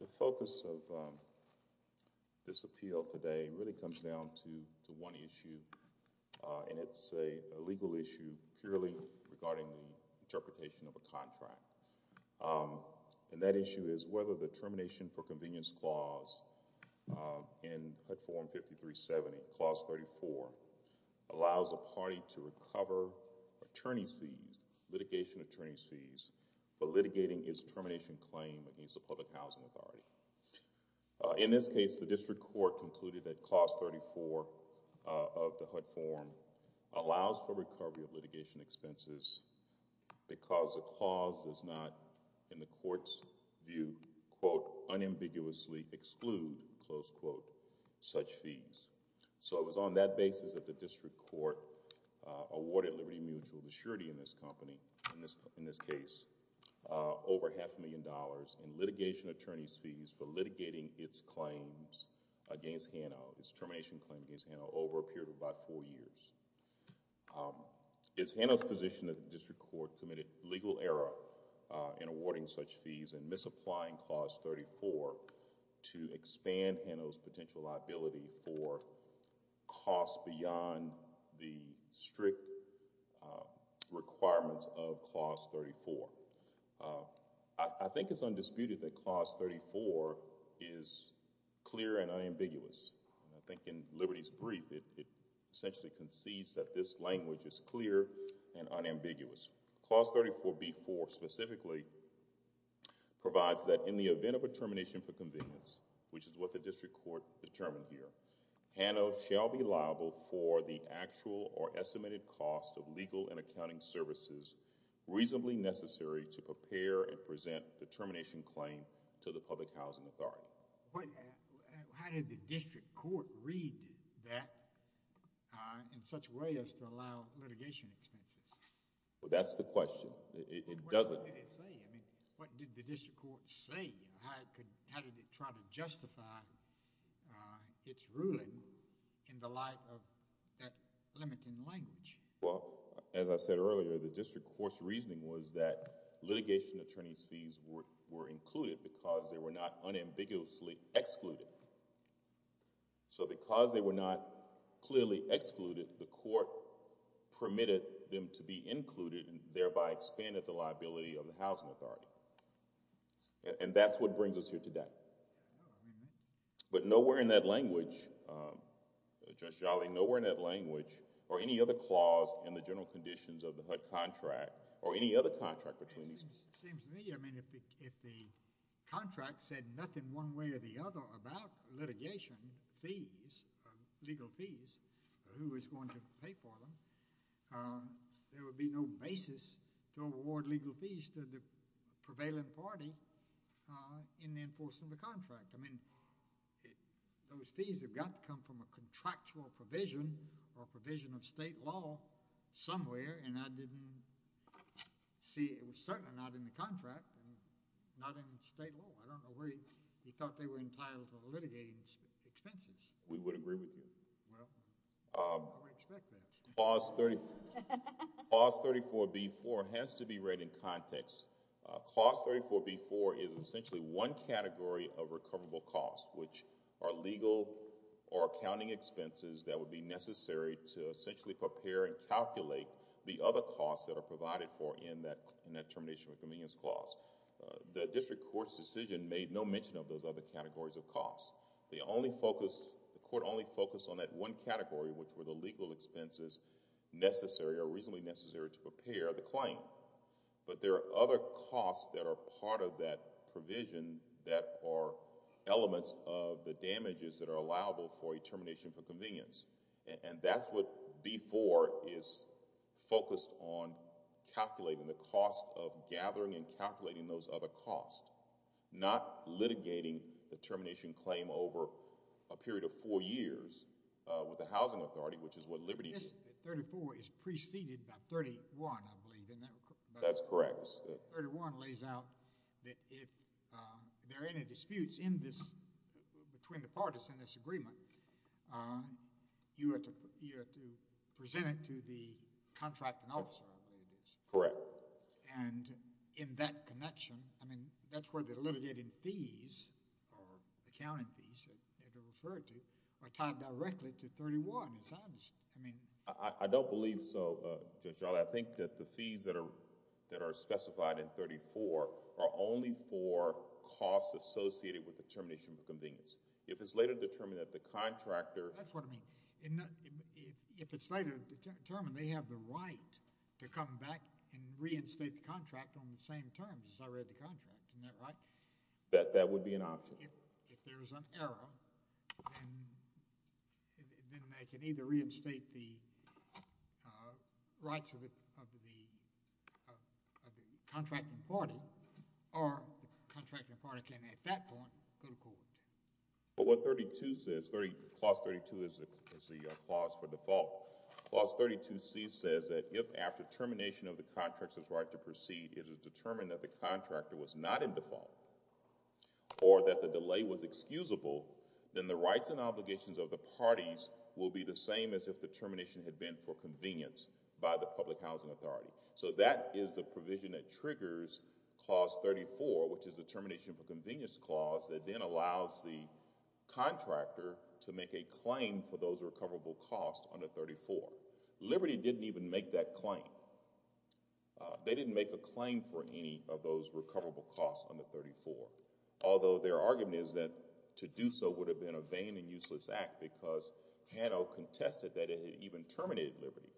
The focus of this appeal today really comes down to one issue, and it's a legal issue purely regarding the interpretation of a contract. And that issue is whether the Termination for Convenience Clause in HUD Form 5370, Clause 34, allows a party to recover attorney's fees, litigation attorney's fees, for litigating its termination claim against the Public Housing Authority. In this case, the District Court concluded that Clause 34 of the HUD form allows for recovery of litigation expenses because the clause does not, in the Court's view, quote, unambiguously exclude, close quote, such fees. So it was on that basis that the District Court awarded Liberty Mutual the surety in this company, in this case, over half a million dollars in litigation attorney's fees for litigating its claims against Hano, its termination claim against Hano for about four years. Is Hano's position that the District Court committed legal error in awarding such fees and misapplying Clause 34 to expand Hano's potential liability for costs beyond the strict requirements of Clause 34? I think it's undisputed that Clause 34 is clear and unambiguous. I think in Liberty's brief, it essentially concedes that this language is clear and unambiguous. Clause 34b4 specifically provides that in the event of a termination for convenience, which is what the District Court determined here, Hano shall be liable for the actual or estimated cost of legal and accounting services reasonably necessary to prepare and present the termination claim to the Public Housing Authority. How did the District Court read that in such a way as to allow litigation expenses? Well, that's the question. It doesn't. What did it say? I mean, what did the District Court say? How did it try to justify its ruling in the light of that limiting language? Well, as I said earlier, the District Court's reasoning was that litigation attorney's fees were included because they were not unambiguously excluded. So because they were not clearly excluded, the Court permitted them to be included and thereby expanded the liability of the Housing Authority. And that's what brings us here today. But nowhere in that language, Judge Jolly, nowhere in that language or any other clause in the general conditions of the HUD contract or any other contract between these two. prevailing party in enforcing the contract. I mean, those fees have got to come from a contractual provision or provision of state law somewhere. And I didn't see it was certainly not in the contract, not in state law. I don't know where he thought they were entitled to litigating expenses. Well, I wouldn't expect that. Clause 34B-4 has to be read in context. Clause 34B-4 is essentially one category of recoverable costs, which are legal or accounting expenses that would be necessary to essentially prepare and calculate the other costs that are provided for in that Termination of Convenience Clause. The District Court's decision made no mention of those other categories of costs. The Court only focused on that one category, which were the legal expenses necessary or reasonably necessary to prepare the claim. But there are other costs that are part of that provision that are elements of the damages that are allowable for a Termination of Convenience. And that's what B-4 is focused on calculating, the cost of gathering and calculating those other costs, not litigating the termination claim over a period of four years with the Housing Authority, which is what Liberty is. I believe that 34 is preceded by 31, I believe. That's correct. 31 lays out that if there are any disputes in this, between the parties in this agreement, you have to present it to the contracting officer. Correct. And in that connection, I mean, that's where the litigating fees or accounting fees, as you referred to, are tied directly to 31. I don't believe so, Judge Alder. I think that the fees that are specified in 34 are only for costs associated with the termination of convenience. If it's later determined that the contractor... on the same terms as I read the contract, isn't that right? That would be an option. If there's an error, then I can either reinstate the rights of the contracting party, or the contracting party can, at that point, go to court. But what 32 says... Clause 32 is the clause for default. Clause 32C says that if, after termination of the contractor's right to proceed, it is determined that the contractor was not in default, or that the delay was excusable, then the rights and obligations of the parties will be the same as if the termination had been for convenience by the Public Housing Authority. So, that is the provision that triggers Clause 34, which is the termination for convenience clause, that then allows the contractor to make a claim for those recoverable costs under 34. Liberty didn't even make that claim. They didn't make a claim for any of those recoverable costs under 34. Although, their argument is that to do so would have been a vain and useless act, because Hano contested that it had even terminated Liberty.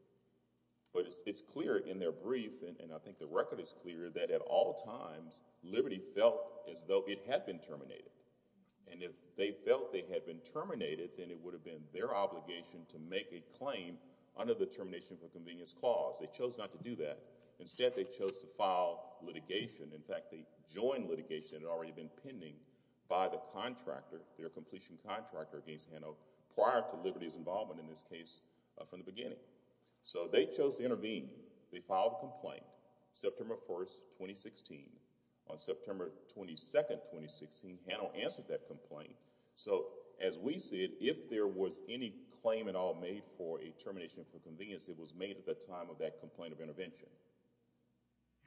But it's clear in their brief, and I think the record is clear, that at all times, Liberty felt as though it had been terminated. And if they felt they had been terminated, then it would have been their obligation to make a claim under the termination for convenience clause. They chose not to do that. Instead, they chose to file litigation. In fact, the joint litigation had already been pending by the contractor, their completion contractor against Hano, prior to Liberty's involvement in this case from the beginning. So, they chose to intervene. They filed a complaint, September 1, 2016. On September 22, 2016, Hano answered that complaint. So, as we see it, if there was any claim at all made for a termination for convenience, it was made at the time of that complaint of intervention.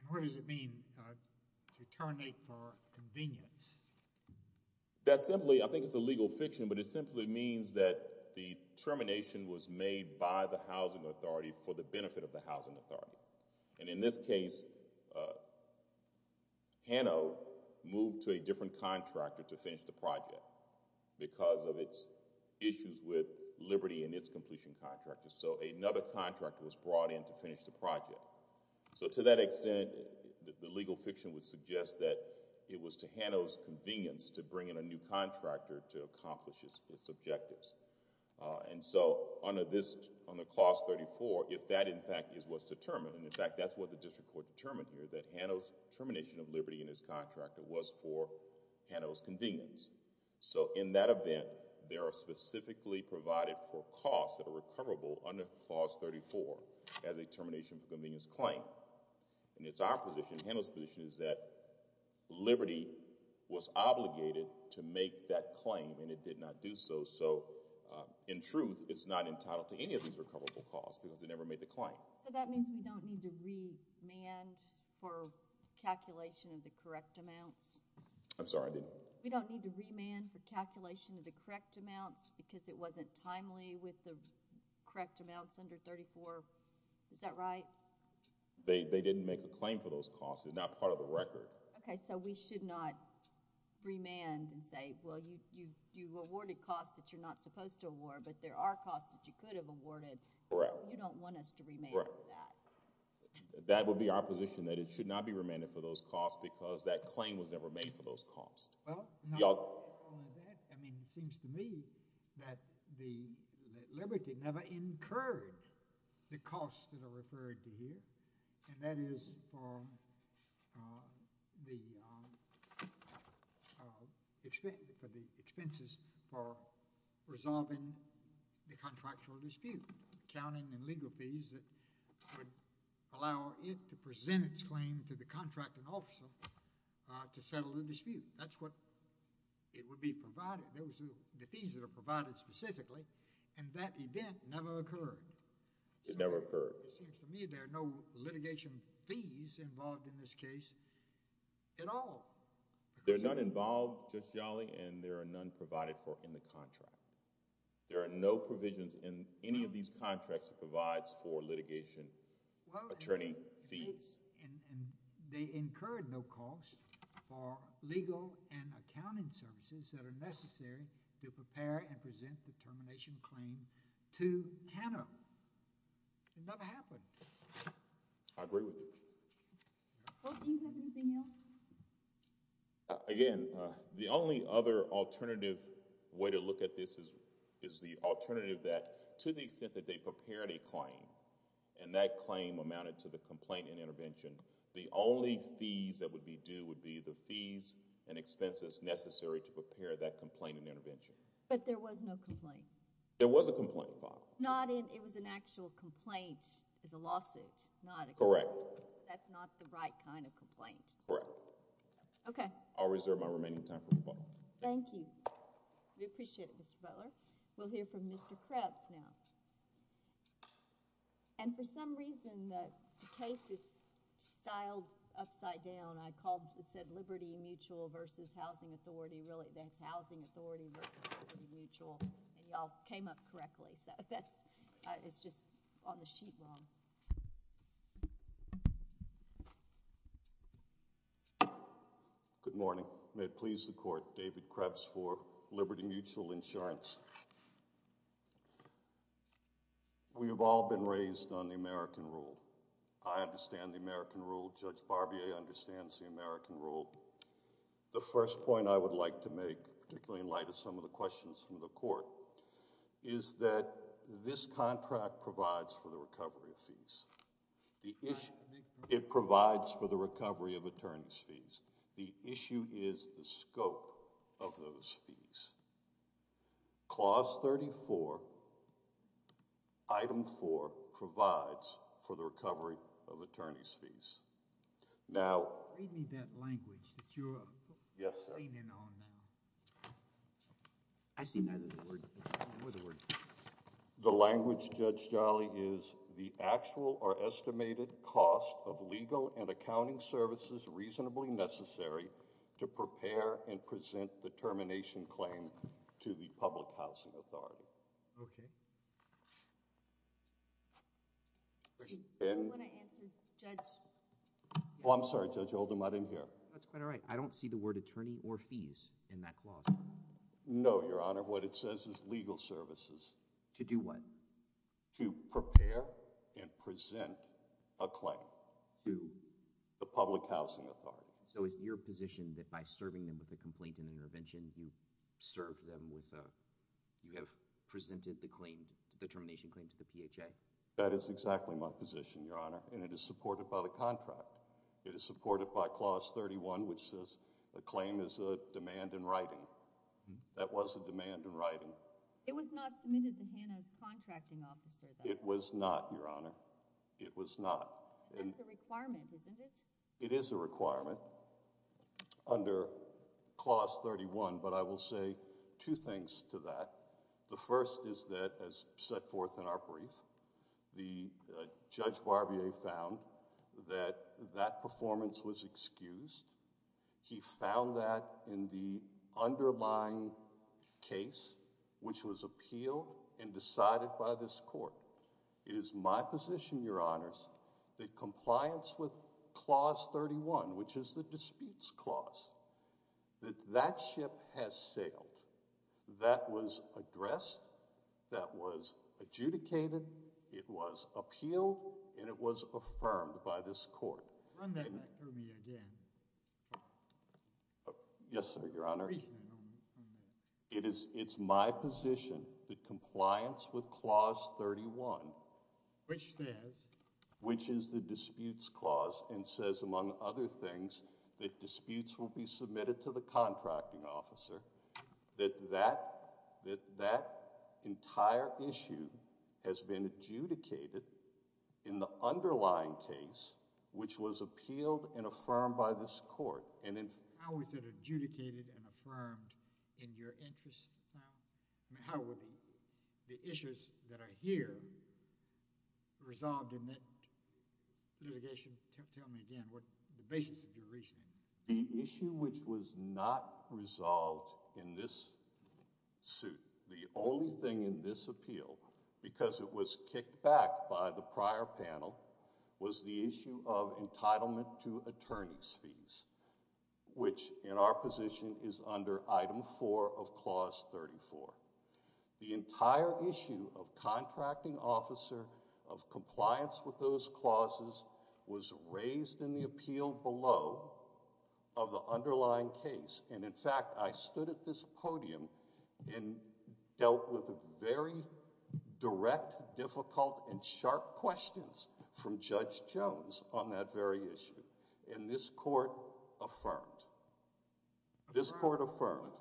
What does it mean to terminate for convenience? That simply, I think it's a legal fiction, but it simply means that the termination was made by the housing authority for the benefit of the housing authority. And in this case, Hano moved to a different contractor to finish the project, because of its issues with Liberty and its completion contractor. So, another contractor was brought in to finish the project. So, to that extent, the legal fiction would suggest that it was to Hano's convenience to bring in a new contractor to accomplish its objectives. And so, under clause 34, if that, in fact, is what's determined, and in fact, that's what the district court determined here, that Hano's termination of Liberty and its contractor was for Hano's convenience. So, in that event, they are specifically provided for costs that are recoverable under clause 34 as a termination for convenience claim. And it's our position, Hano's position, is that Liberty was obligated to make that claim, and it did not do so. So, in truth, it's not entitled to any of these recoverable costs, because it never made the claim. So, that means we don't need to remand for calculation of the correct amounts? We don't need to remand for calculation of the correct amounts, because it wasn't timely with the correct amounts under 34? Is that right? They didn't make a claim for those costs. It's not part of the record. Okay. So, we should not remand and say, well, you've awarded costs that you're not supposed to award, but there are costs that you could have awarded. Right. You don't want us to remand that. Right. That would be our position, that it should not be remanded for those costs, because that claim was never made for those costs. Well, it seems to me that Liberty never encouraged the costs that are referred to here, and that is for the expenses for resolving the contractual dispute, accounting and legal fees that would allow it to present its claim to the contracting officer to settle the dispute. That's what it would be provided, the fees that are provided specifically, and that event never occurred. It never occurred. It seems to me there are no litigation fees involved in this case at all. There are none involved, Justice Yawley, and there are none provided for in the contract. There are no provisions in any of these contracts that provides for litigation attorney fees. Well, and they incurred no costs for legal and accounting services that are necessary to prepare and present the termination claim to TANF. It never happened. I agree with you. Do you have anything else? Again, the only other alternative way to look at this is the alternative that, to the extent that they prepared a claim, and that claim amounted to the complaint and intervention, the only fees that would be due would be the fees and expenses necessary to prepare that complaint and intervention. But there was no complaint? There was a complaint filed. Not in—it was an actual complaint as a lawsuit? Correct. That's not the right kind of complaint? Correct. Okay. I'll reserve my remaining time for rebuttal. We appreciate it, Mr. Butler. We'll hear from Mr. Krebs now. And for some reason, the case is styled upside down. I called—it said Liberty Mutual versus Housing Authority. Really, that's Housing Authority versus Liberty Mutual, and y'all came up correctly. So that's—it's just on the sheet wrong. Good morning. May it please the Court, David Krebs for Liberty Mutual Insurance. We have all been raised on the American rule. I understand the American rule. Judge Barbier understands the American rule. The first point I would like to make, particularly in light of some of the questions from the Court, is that this contract provides for the recovery of fees. It provides for the recovery of attorney's fees. The issue is the scope of those fees. Clause 34, Item 4, provides for the recovery of attorney's fees. Now— Read me that language that you're— Yes, sir. —leading on now. I see neither the word—nor the word fees. The language, Judge Jolly, is the actual or estimated cost of legal and accounting services reasonably necessary to prepare and present the termination claim to the public housing authority. Okay. You want to answer, Judge— Oh, I'm sorry, Judge Oldham. I didn't hear. That's quite all right. I don't see the word attorney or fees in that clause. No, Your Honor. What it says is legal services. To do what? To prepare and present a claim to the public housing authority. So is it your position that by serving them with a complaint and intervention, you served them with a—you have presented the termination claim to the PHA? That is exactly my position, Your Honor. And it is supported by the contract. It is supported by Clause 31, which says the claim is a demand in writing. That was a demand in writing. It was not submitted to Hannah's contracting officer, though. It was not, Your Honor. It was not. That's a requirement, isn't it? It is a requirement under Clause 31, but I will say two things to that. The first is that, as set forth in our brief, the Judge Barbier found that that performance was excused. He found that in the underlying case, which was appealed and decided by this court. It is my position, Your Honors, that compliance with Clause 31, which is the disputes clause, that that ship has sailed. That was addressed. That was adjudicated. It was appealed, and it was affirmed by this court. Run that back for me again. Yes, sir, Your Honor. It is my position that compliance with Clause 31, which is the disputes clause, and says, among other things, that disputes will be submitted to the contracting officer, that that entire issue has been adjudicated in the underlying case, which was appealed and affirmed by this court. How is it adjudicated and affirmed in your interest, Your Honor? How were the issues that are here resolved in that litigation? Tell me again what the basis of your reasoning is. The issue which was not resolved in this suit, the only thing in this appeal, because it was kicked back by the prior panel, was the issue of entitlement to attorney's fees, which in our position is under Item 4 of Clause 34. The entire issue of contracting officer, of compliance with those clauses, was raised in the appeal below of the underlying case. And, in fact, I stood at this podium and dealt with very direct, difficult, and sharp questions from Judge Jones on that very issue. And this court affirmed. This court affirmed.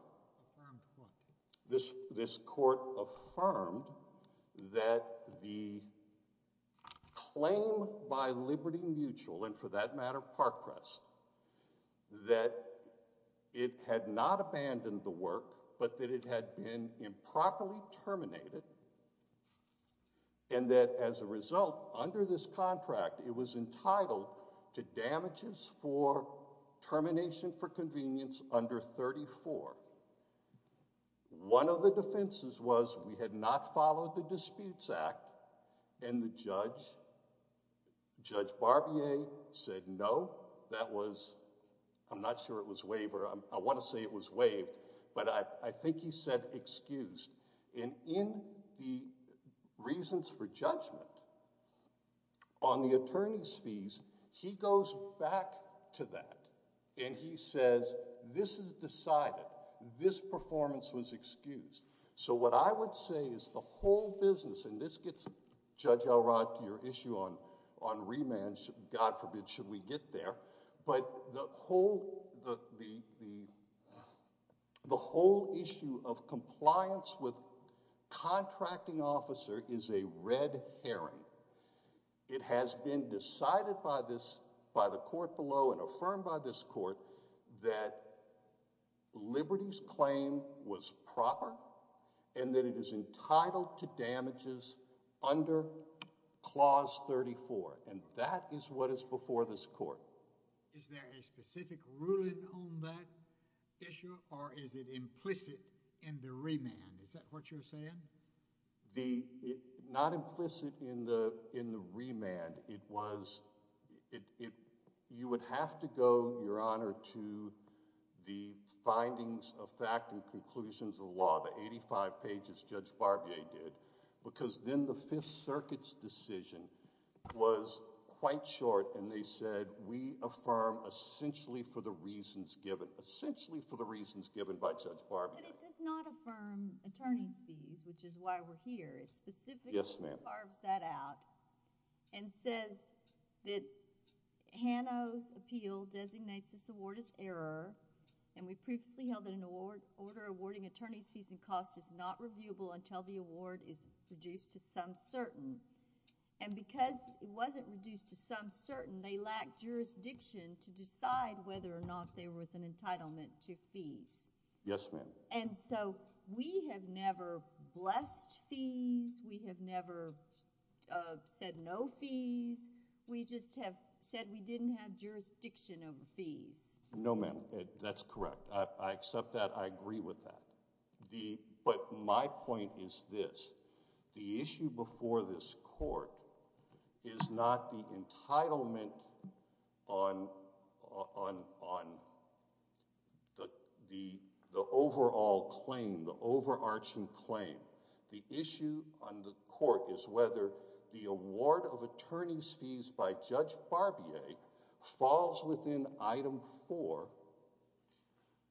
This court affirmed that the claim by Liberty Mutual, and for that matter Parkcrest, that it had not abandoned the work, but that it had been improperly terminated, and that, as a result, under this contract, it was entitled to damages for termination for convenience under 34. One of the defenses was we had not followed the Disputes Act, and the judge, Judge Barbier, said, No, that was – I'm not sure it was waived, or I want to say it was waived, but I think he said excused. And in the reasons for judgment, on the attorney's fees, he goes back to that, and he says this is decided. This performance was excused. So what I would say is the whole business – and this gets Judge Elrod to your issue on remand. God forbid should we get there. But the whole issue of compliance with contracting officer is a red herring. It has been decided by this – by the court below and affirmed by this court that Liberty's claim was proper and that it is entitled to damages under Clause 34, and that is what is before this court. Is there a specific ruling on that issue, or is it implicit in the remand? Not implicit in the remand. It was – you would have to go, Your Honor, to the findings of fact and conclusions of the law, the 85 pages Judge Barbier did, because then the Fifth Circuit's decision was quite short, and they said we affirm essentially for the reasons given, essentially for the reasons given by Judge Barbier. But it does not affirm attorney's fees, which is why we're here. It specifically carves that out and says that Hano's appeal designates this award as error, and we previously held that an order awarding attorney's fees and costs is not reviewable until the award is reduced to some certain. And because it wasn't reduced to some certain, they lacked jurisdiction to decide whether or not there was an entitlement to fees. Yes, ma'am. And so we have never blessed fees. We have never said no fees. We just have said we didn't have jurisdiction over fees. No, ma'am. That's correct. I accept that. I agree with that. But my point is this. The issue before this court is not the entitlement on the overall claim, the overarching claim. The issue on the court is whether the award of attorney's fees by Judge Barbier falls within item four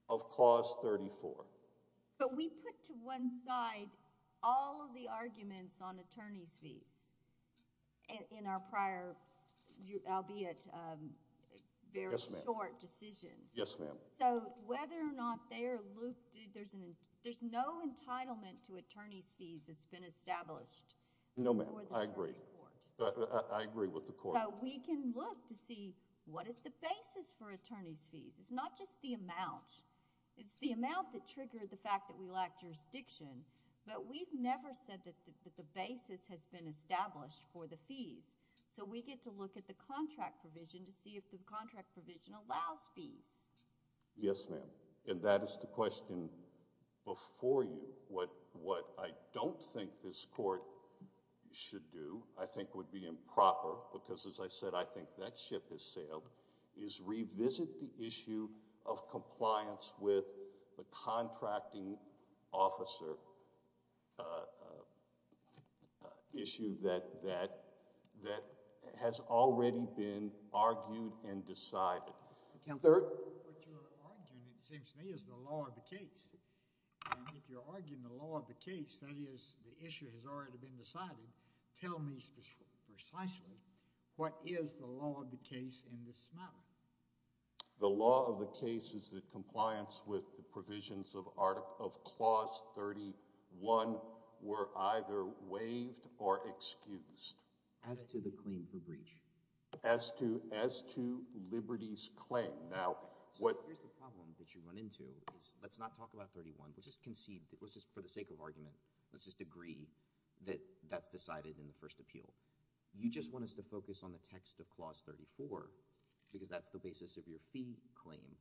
of clause 34. But we put to one side all of the arguments on attorney's fees in our prior, albeit very short, decision. Yes, ma'am. So whether or not they are looped, there's no entitlement to attorney's fees that's been established. No, ma'am. I agree. I agree with the court. So we can look to see what is the basis for attorney's fees. It's not just the amount. It's the amount that triggered the fact that we lack jurisdiction. But we've never said that the basis has been established for the fees. So we get to look at the contract provision to see if the contract provision allows fees. Yes, ma'am. And that is the question before you. What I don't think this court should do, I think would be improper, because as I said, I think that ship has sailed, is revisit the issue of compliance with the contracting officer issue that has already been argued and decided. Counselor? What you're arguing, it seems to me, is the law of the case. And if you're arguing the law of the case, that is, the issue has already been decided, tell me precisely what is the law of the case in this matter? The law of the case is that compliance with the provisions of Clause 31 were either waived or excused. As to the claim for breach? As to Liberty's claim. Here's the problem that you run into. Let's not talk about 31. Let's just concede, for the sake of argument, let's just agree that that's decided in the first appeal. You just want us to focus on the text of Clause 34, because that's the basis of your fee claim.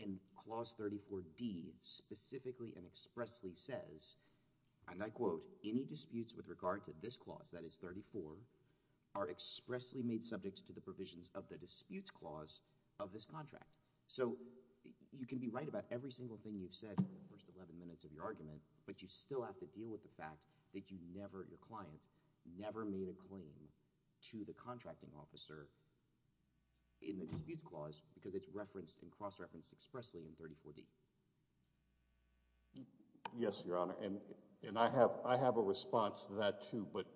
And Clause 34D specifically and expressly says, and I quote, Any disputes with regard to this clause, that is 34, are expressly made subject to the provisions of the disputes clause of this contract. So you can be right about every single thing you've said in the first 11 minutes of your argument, but you still have to deal with the fact that you never, your client, never made a claim to the contracting officer in the disputes clause, because it's referenced and cross-referenced expressly in 34D. Yes, Your Honor. And I have a response to that, too. But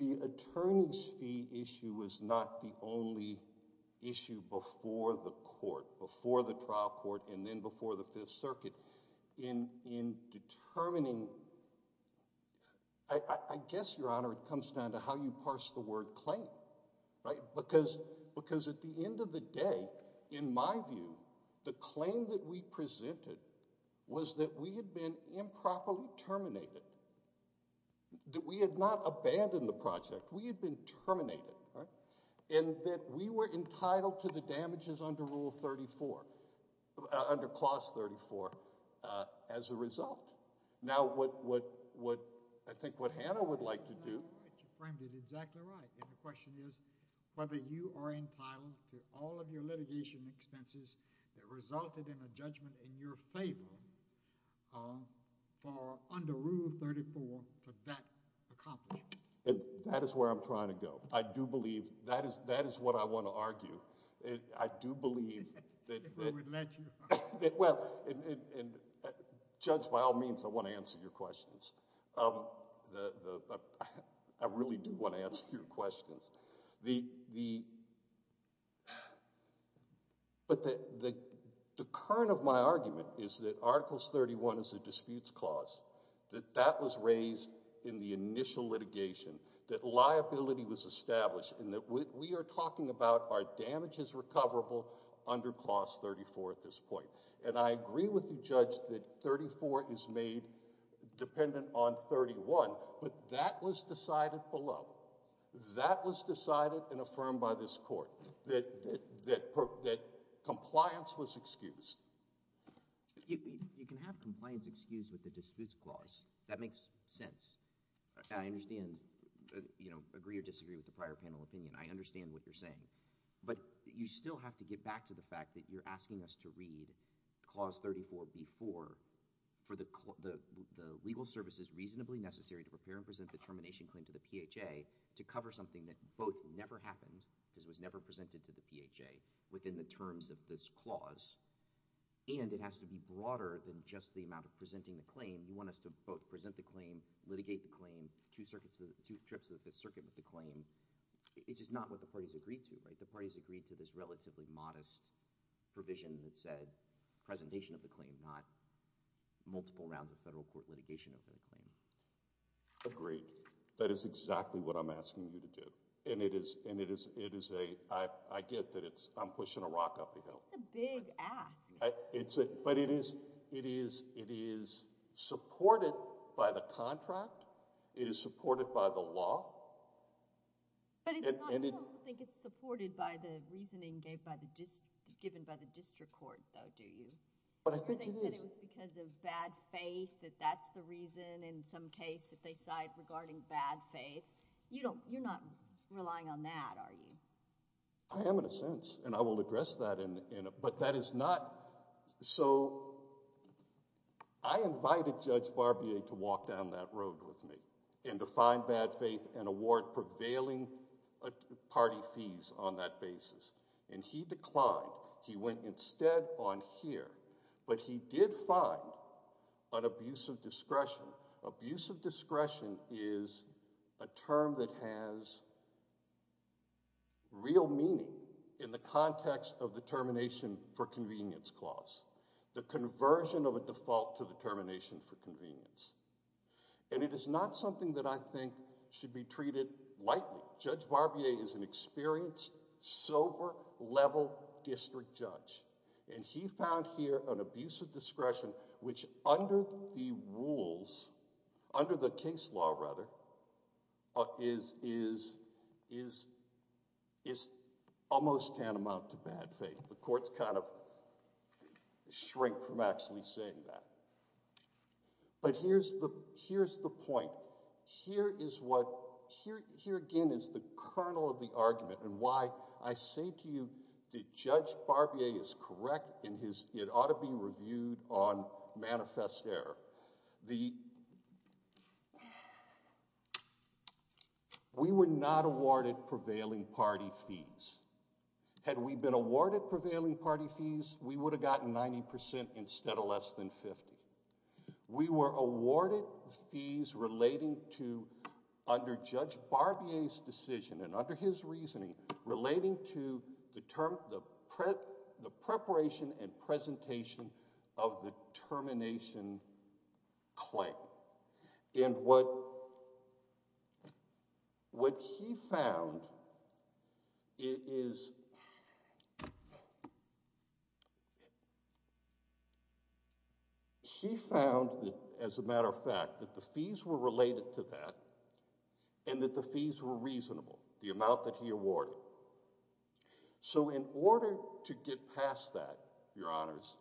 the attorney's fee issue was not the only issue before the court, before the trial court, and then before the Fifth Circuit. In determining, I guess, Your Honor, it comes down to how you parse the word claim, right? Because at the end of the day, in my view, the claim that we presented was that we had been improperly terminated, that we had not abandoned the project, we had been terminated, right? And that we were entitled to the damages under Rule 34, under Clause 34, as a result. Now, what I think what Hannah would like to do— You framed it exactly right. And the question is whether you are entitled to all of your litigation expenses that resulted in a judgment in your favor under Rule 34 for that accomplishment. That is where I'm trying to go. I do believe—that is what I want to argue. I do believe that— If we would let you. Judge, by all means, I want to answer your questions. I really do want to answer your questions. But the current of my argument is that Articles 31 is a disputes clause, that that was raised in the initial litigation, that liability was established, and that we are talking about our damages recoverable under Clause 34 at this point. And I agree with the judge that 34 is made dependent on 31, but that was decided below. That was decided and affirmed by this court, that compliance was excused. You can have compliance excused with a disputes clause. That makes sense. I understand, you know, agree or disagree with the prior panel opinion. I understand what you're saying. But you still have to get back to the fact that you're asking us to read Clause 34 before for the legal services reasonably necessary to prepare and present the termination claim to the PHA to cover something that both never happened, because it was never presented to the PHA within the terms of this clause, and it has to be broader than just the amount of presenting the claim. You want us to both present the claim, litigate the claim, two circuits—two trips to the Fifth Circuit with the claim. It's just not what the parties agreed to, right? The parties agreed to this relatively modest provision that said presentation of the claim, not multiple rounds of federal court litigation of the claim. Agreed. That is exactly what I'm asking you to do. And it is a—I get that I'm pushing a rock up a hill. That's a big ask. But it is supported by the contract. It is supported by the law. But I don't think it's supported by the reasoning given by the district court, though, do you? They said it was because of bad faith, that that's the reason in some case that they side regarding bad faith. You're not relying on that, are you? I am in a sense, and I will address that. But that is not—so I invited Judge Barbier to walk down that road with me and to find bad faith and award prevailing party fees on that basis. And he declined. He went instead on here. But he did find an abuse of discretion. Abuse of discretion is a term that has real meaning in the context of the termination for convenience clause, the conversion of a default to the termination for convenience. And it is not something that I think should be treated lightly. Judge Barbier is an experienced, sober, level district judge. And he found here an abuse of discretion which under the rules, under the case law rather, is almost tantamount to bad faith. The courts kind of shrink from actually saying that. But here's the point. Here is what—here again is the kernel of the argument and why I say to you that Judge Barbier is correct in his—it ought to be reviewed on manifest error. The—we were not awarded prevailing party fees. Had we been awarded prevailing party fees, we would have gotten 90% instead of less than 50%. We were awarded fees relating to—under Judge Barbier's decision and under his reasoning relating to the term—the preparation and presentation of the termination claim. And what he found is—he found, as a matter of fact, that the fees were related to that and that the fees were reasonable, the amount that he awarded. So in order to get past that, Your Honors,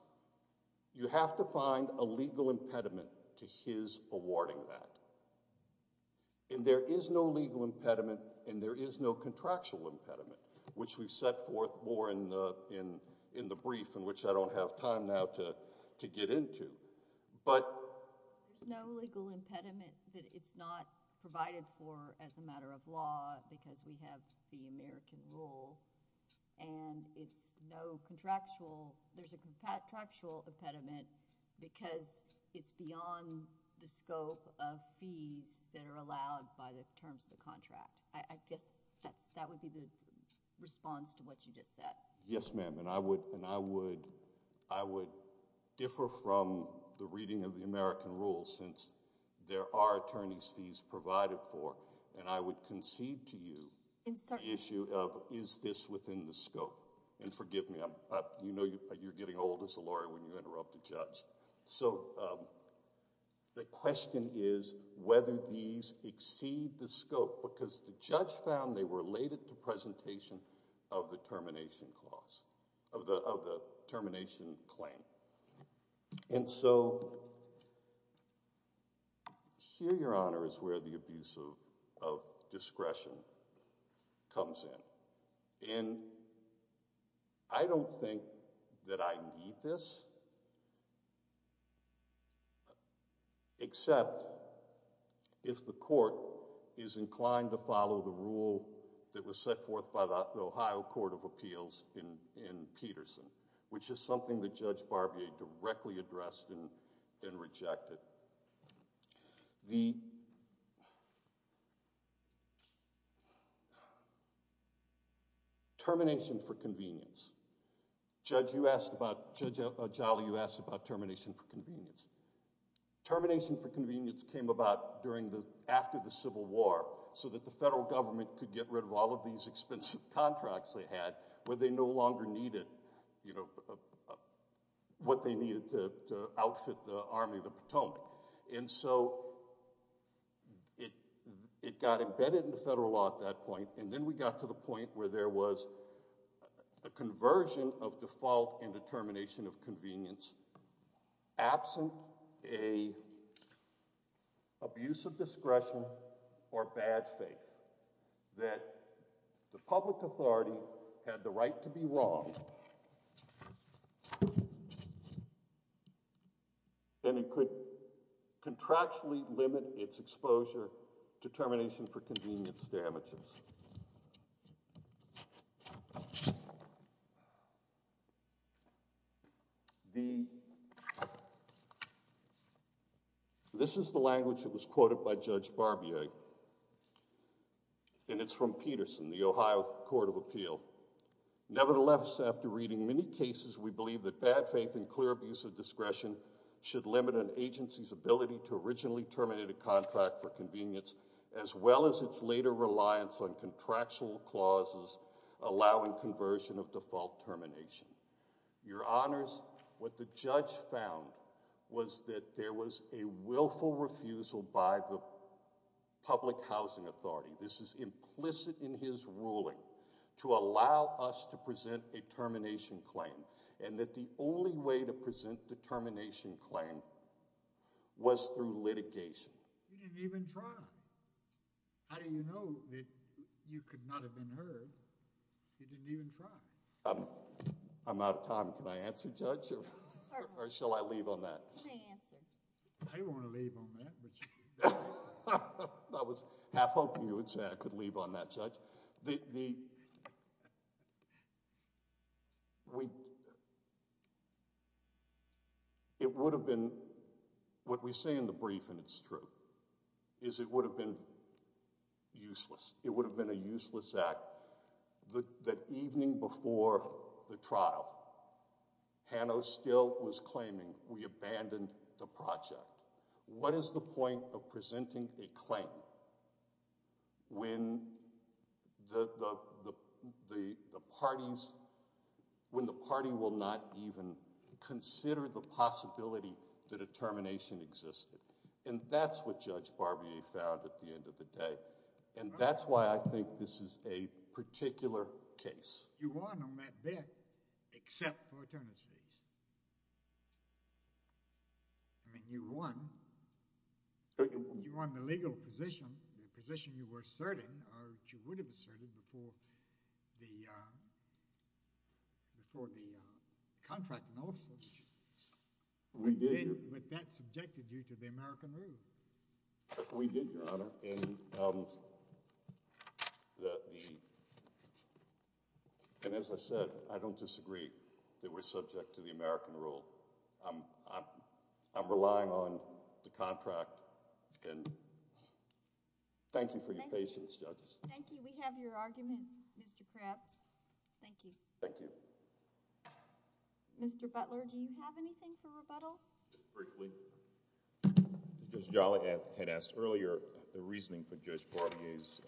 you have to find a legal impediment to his awarding that. And there is no legal impediment and there is no contractual impediment, which we've set forth more in the brief in which I don't have time now to get into. But— There's no legal impediment that it's not provided for as a matter of law because we have the American rule. And it's no contractual—there's a contractual impediment because it's beyond the scope of fees that are allowed by the terms of the contract. I guess that's—that would be the response to what you just said. Yes, ma'am. And I would—and I would—I would differ from the reading of the American rule since there are attorney's fees provided for. And I would concede to you the issue of is this within the scope. And forgive me. You know you're getting old as a lawyer when you interrupt a judge. So the question is whether these exceed the scope because the judge found they were related to presentation of the termination clause—of the termination claim. And so here, Your Honor, is where the abuse of discretion comes in. And I don't think that I need this except if the court is inclined to follow the rule that was set forth by the Ohio Court of Appeals in Peterson, which is something that Judge Barbier directly addressed and rejected. The termination for convenience. Judge, you asked about—Judge O'Jolly, you asked about termination for convenience. Termination for convenience came about during the—after the Civil War so that the federal government could get rid of all of these expensive contracts they had where they no longer needed, you know, what they needed to outfit the Army of the Potomac. And so it got embedded in the federal law at that point, and then we got to the point where there was a conversion of default and determination of convenience absent a abuse of discretion or bad faith that the public authority had the right to be wrong, and it could contractually limit its exposure to termination for convenience damages. The—this is the language that was quoted by Judge Barbier, and it's from Peterson, the Ohio Court of Appeal. Nevertheless, after reading many cases, we believe that bad faith and clear abuse of discretion should limit an agency's ability to originally terminate a contract for convenience as well as its later reliance on contractual clauses allowing conversion of default termination. Your Honors, what the judge found was that there was a willful refusal by the public housing authority—this is implicit in his ruling— to allow us to present a termination claim and that the only way to present the termination claim was through litigation. He didn't even try. How do you know that you could not have been heard? He didn't even try. I'm out of time. Can I answer, Judge, or shall I leave on that? You may answer. I want to leave on that. I was half hoping you would say I could leave on that, Judge. The—it would have been—what we say in the brief, and it's true, is it would have been useless. It would have been a useless act. The evening before the trial, Hano still was claiming we abandoned the project. What is the point of presenting a claim when the parties—when the party will not even consider the possibility that a termination existed? And that's what Judge Barbier found at the end of the day. And that's why I think this is a particular case. You won on that bet except for attorneys' fees. I mean, you won. You won the legal position, the position you were asserting or that you would have asserted before the contract notice. We did, Your Honor. But that subjected you to the American rule. We did, Your Honor. And as I said, I don't disagree that we're subject to the American rule. I'm relying on the contract. And thank you for your patience, Judge. Thank you. We have your argument, Mr. Krebs. Thank you. Thank you. Mr. Butler, do you have anything for rebuttal? Just briefly. Judge Jolly had asked earlier the reasoning for Judge Barbier's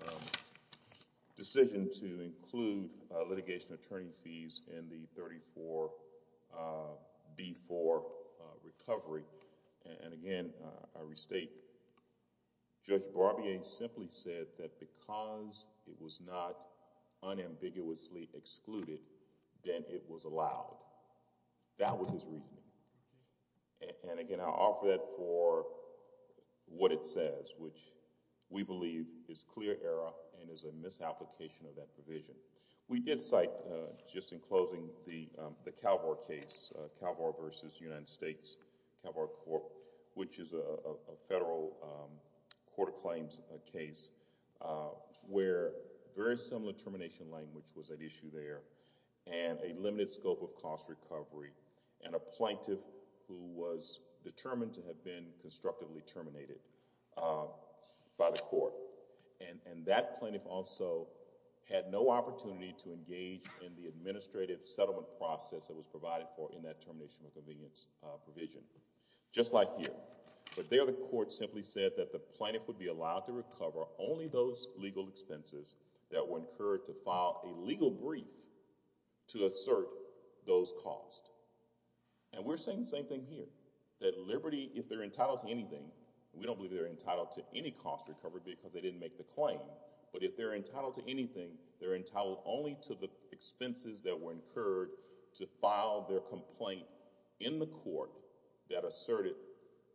decision to include litigation attorney fees in the 34B4 recovery. And again, I restate, Judge Barbier simply said that because it was not unambiguously excluded, then it was allowed. That was his reasoning. And again, I offer that for what it says, which we believe is clear error and is a misapplication of that provision. We did cite, just in closing, the Calvore case, Calvore v. United States, Calvore Court, which is a federal court of claims case where very similar termination language was at issue there, and a limited scope of cost recovery, and a plaintiff who was determined to have been constructively terminated by the court. And that plaintiff also had no opportunity to engage in the administrative settlement process that was provided for in that termination of convenience provision. Just like here. But there the court simply said that the plaintiff would be allowed to recover only those legal expenses that were incurred to file a legal brief to assert those costs. And we're saying the same thing here. That Liberty, if they're entitled to anything, we don't believe they're entitled to any cost recovery because they didn't make the claim, but if they're entitled to anything, they're entitled only to the expenses that were incurred to file their complaint in the court that asserted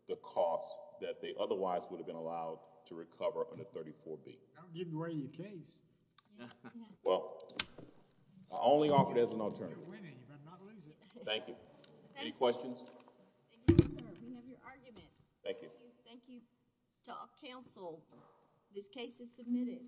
the cost that they otherwise would have been allowed to recover under 34B. I don't give away your case. Well, I only offer it as an alternative. You're winning. You better not lose it. Thank you. Any questions? Thank you, sir. We have your argument. Thank you. Thank you to our counsel. This case is submitted.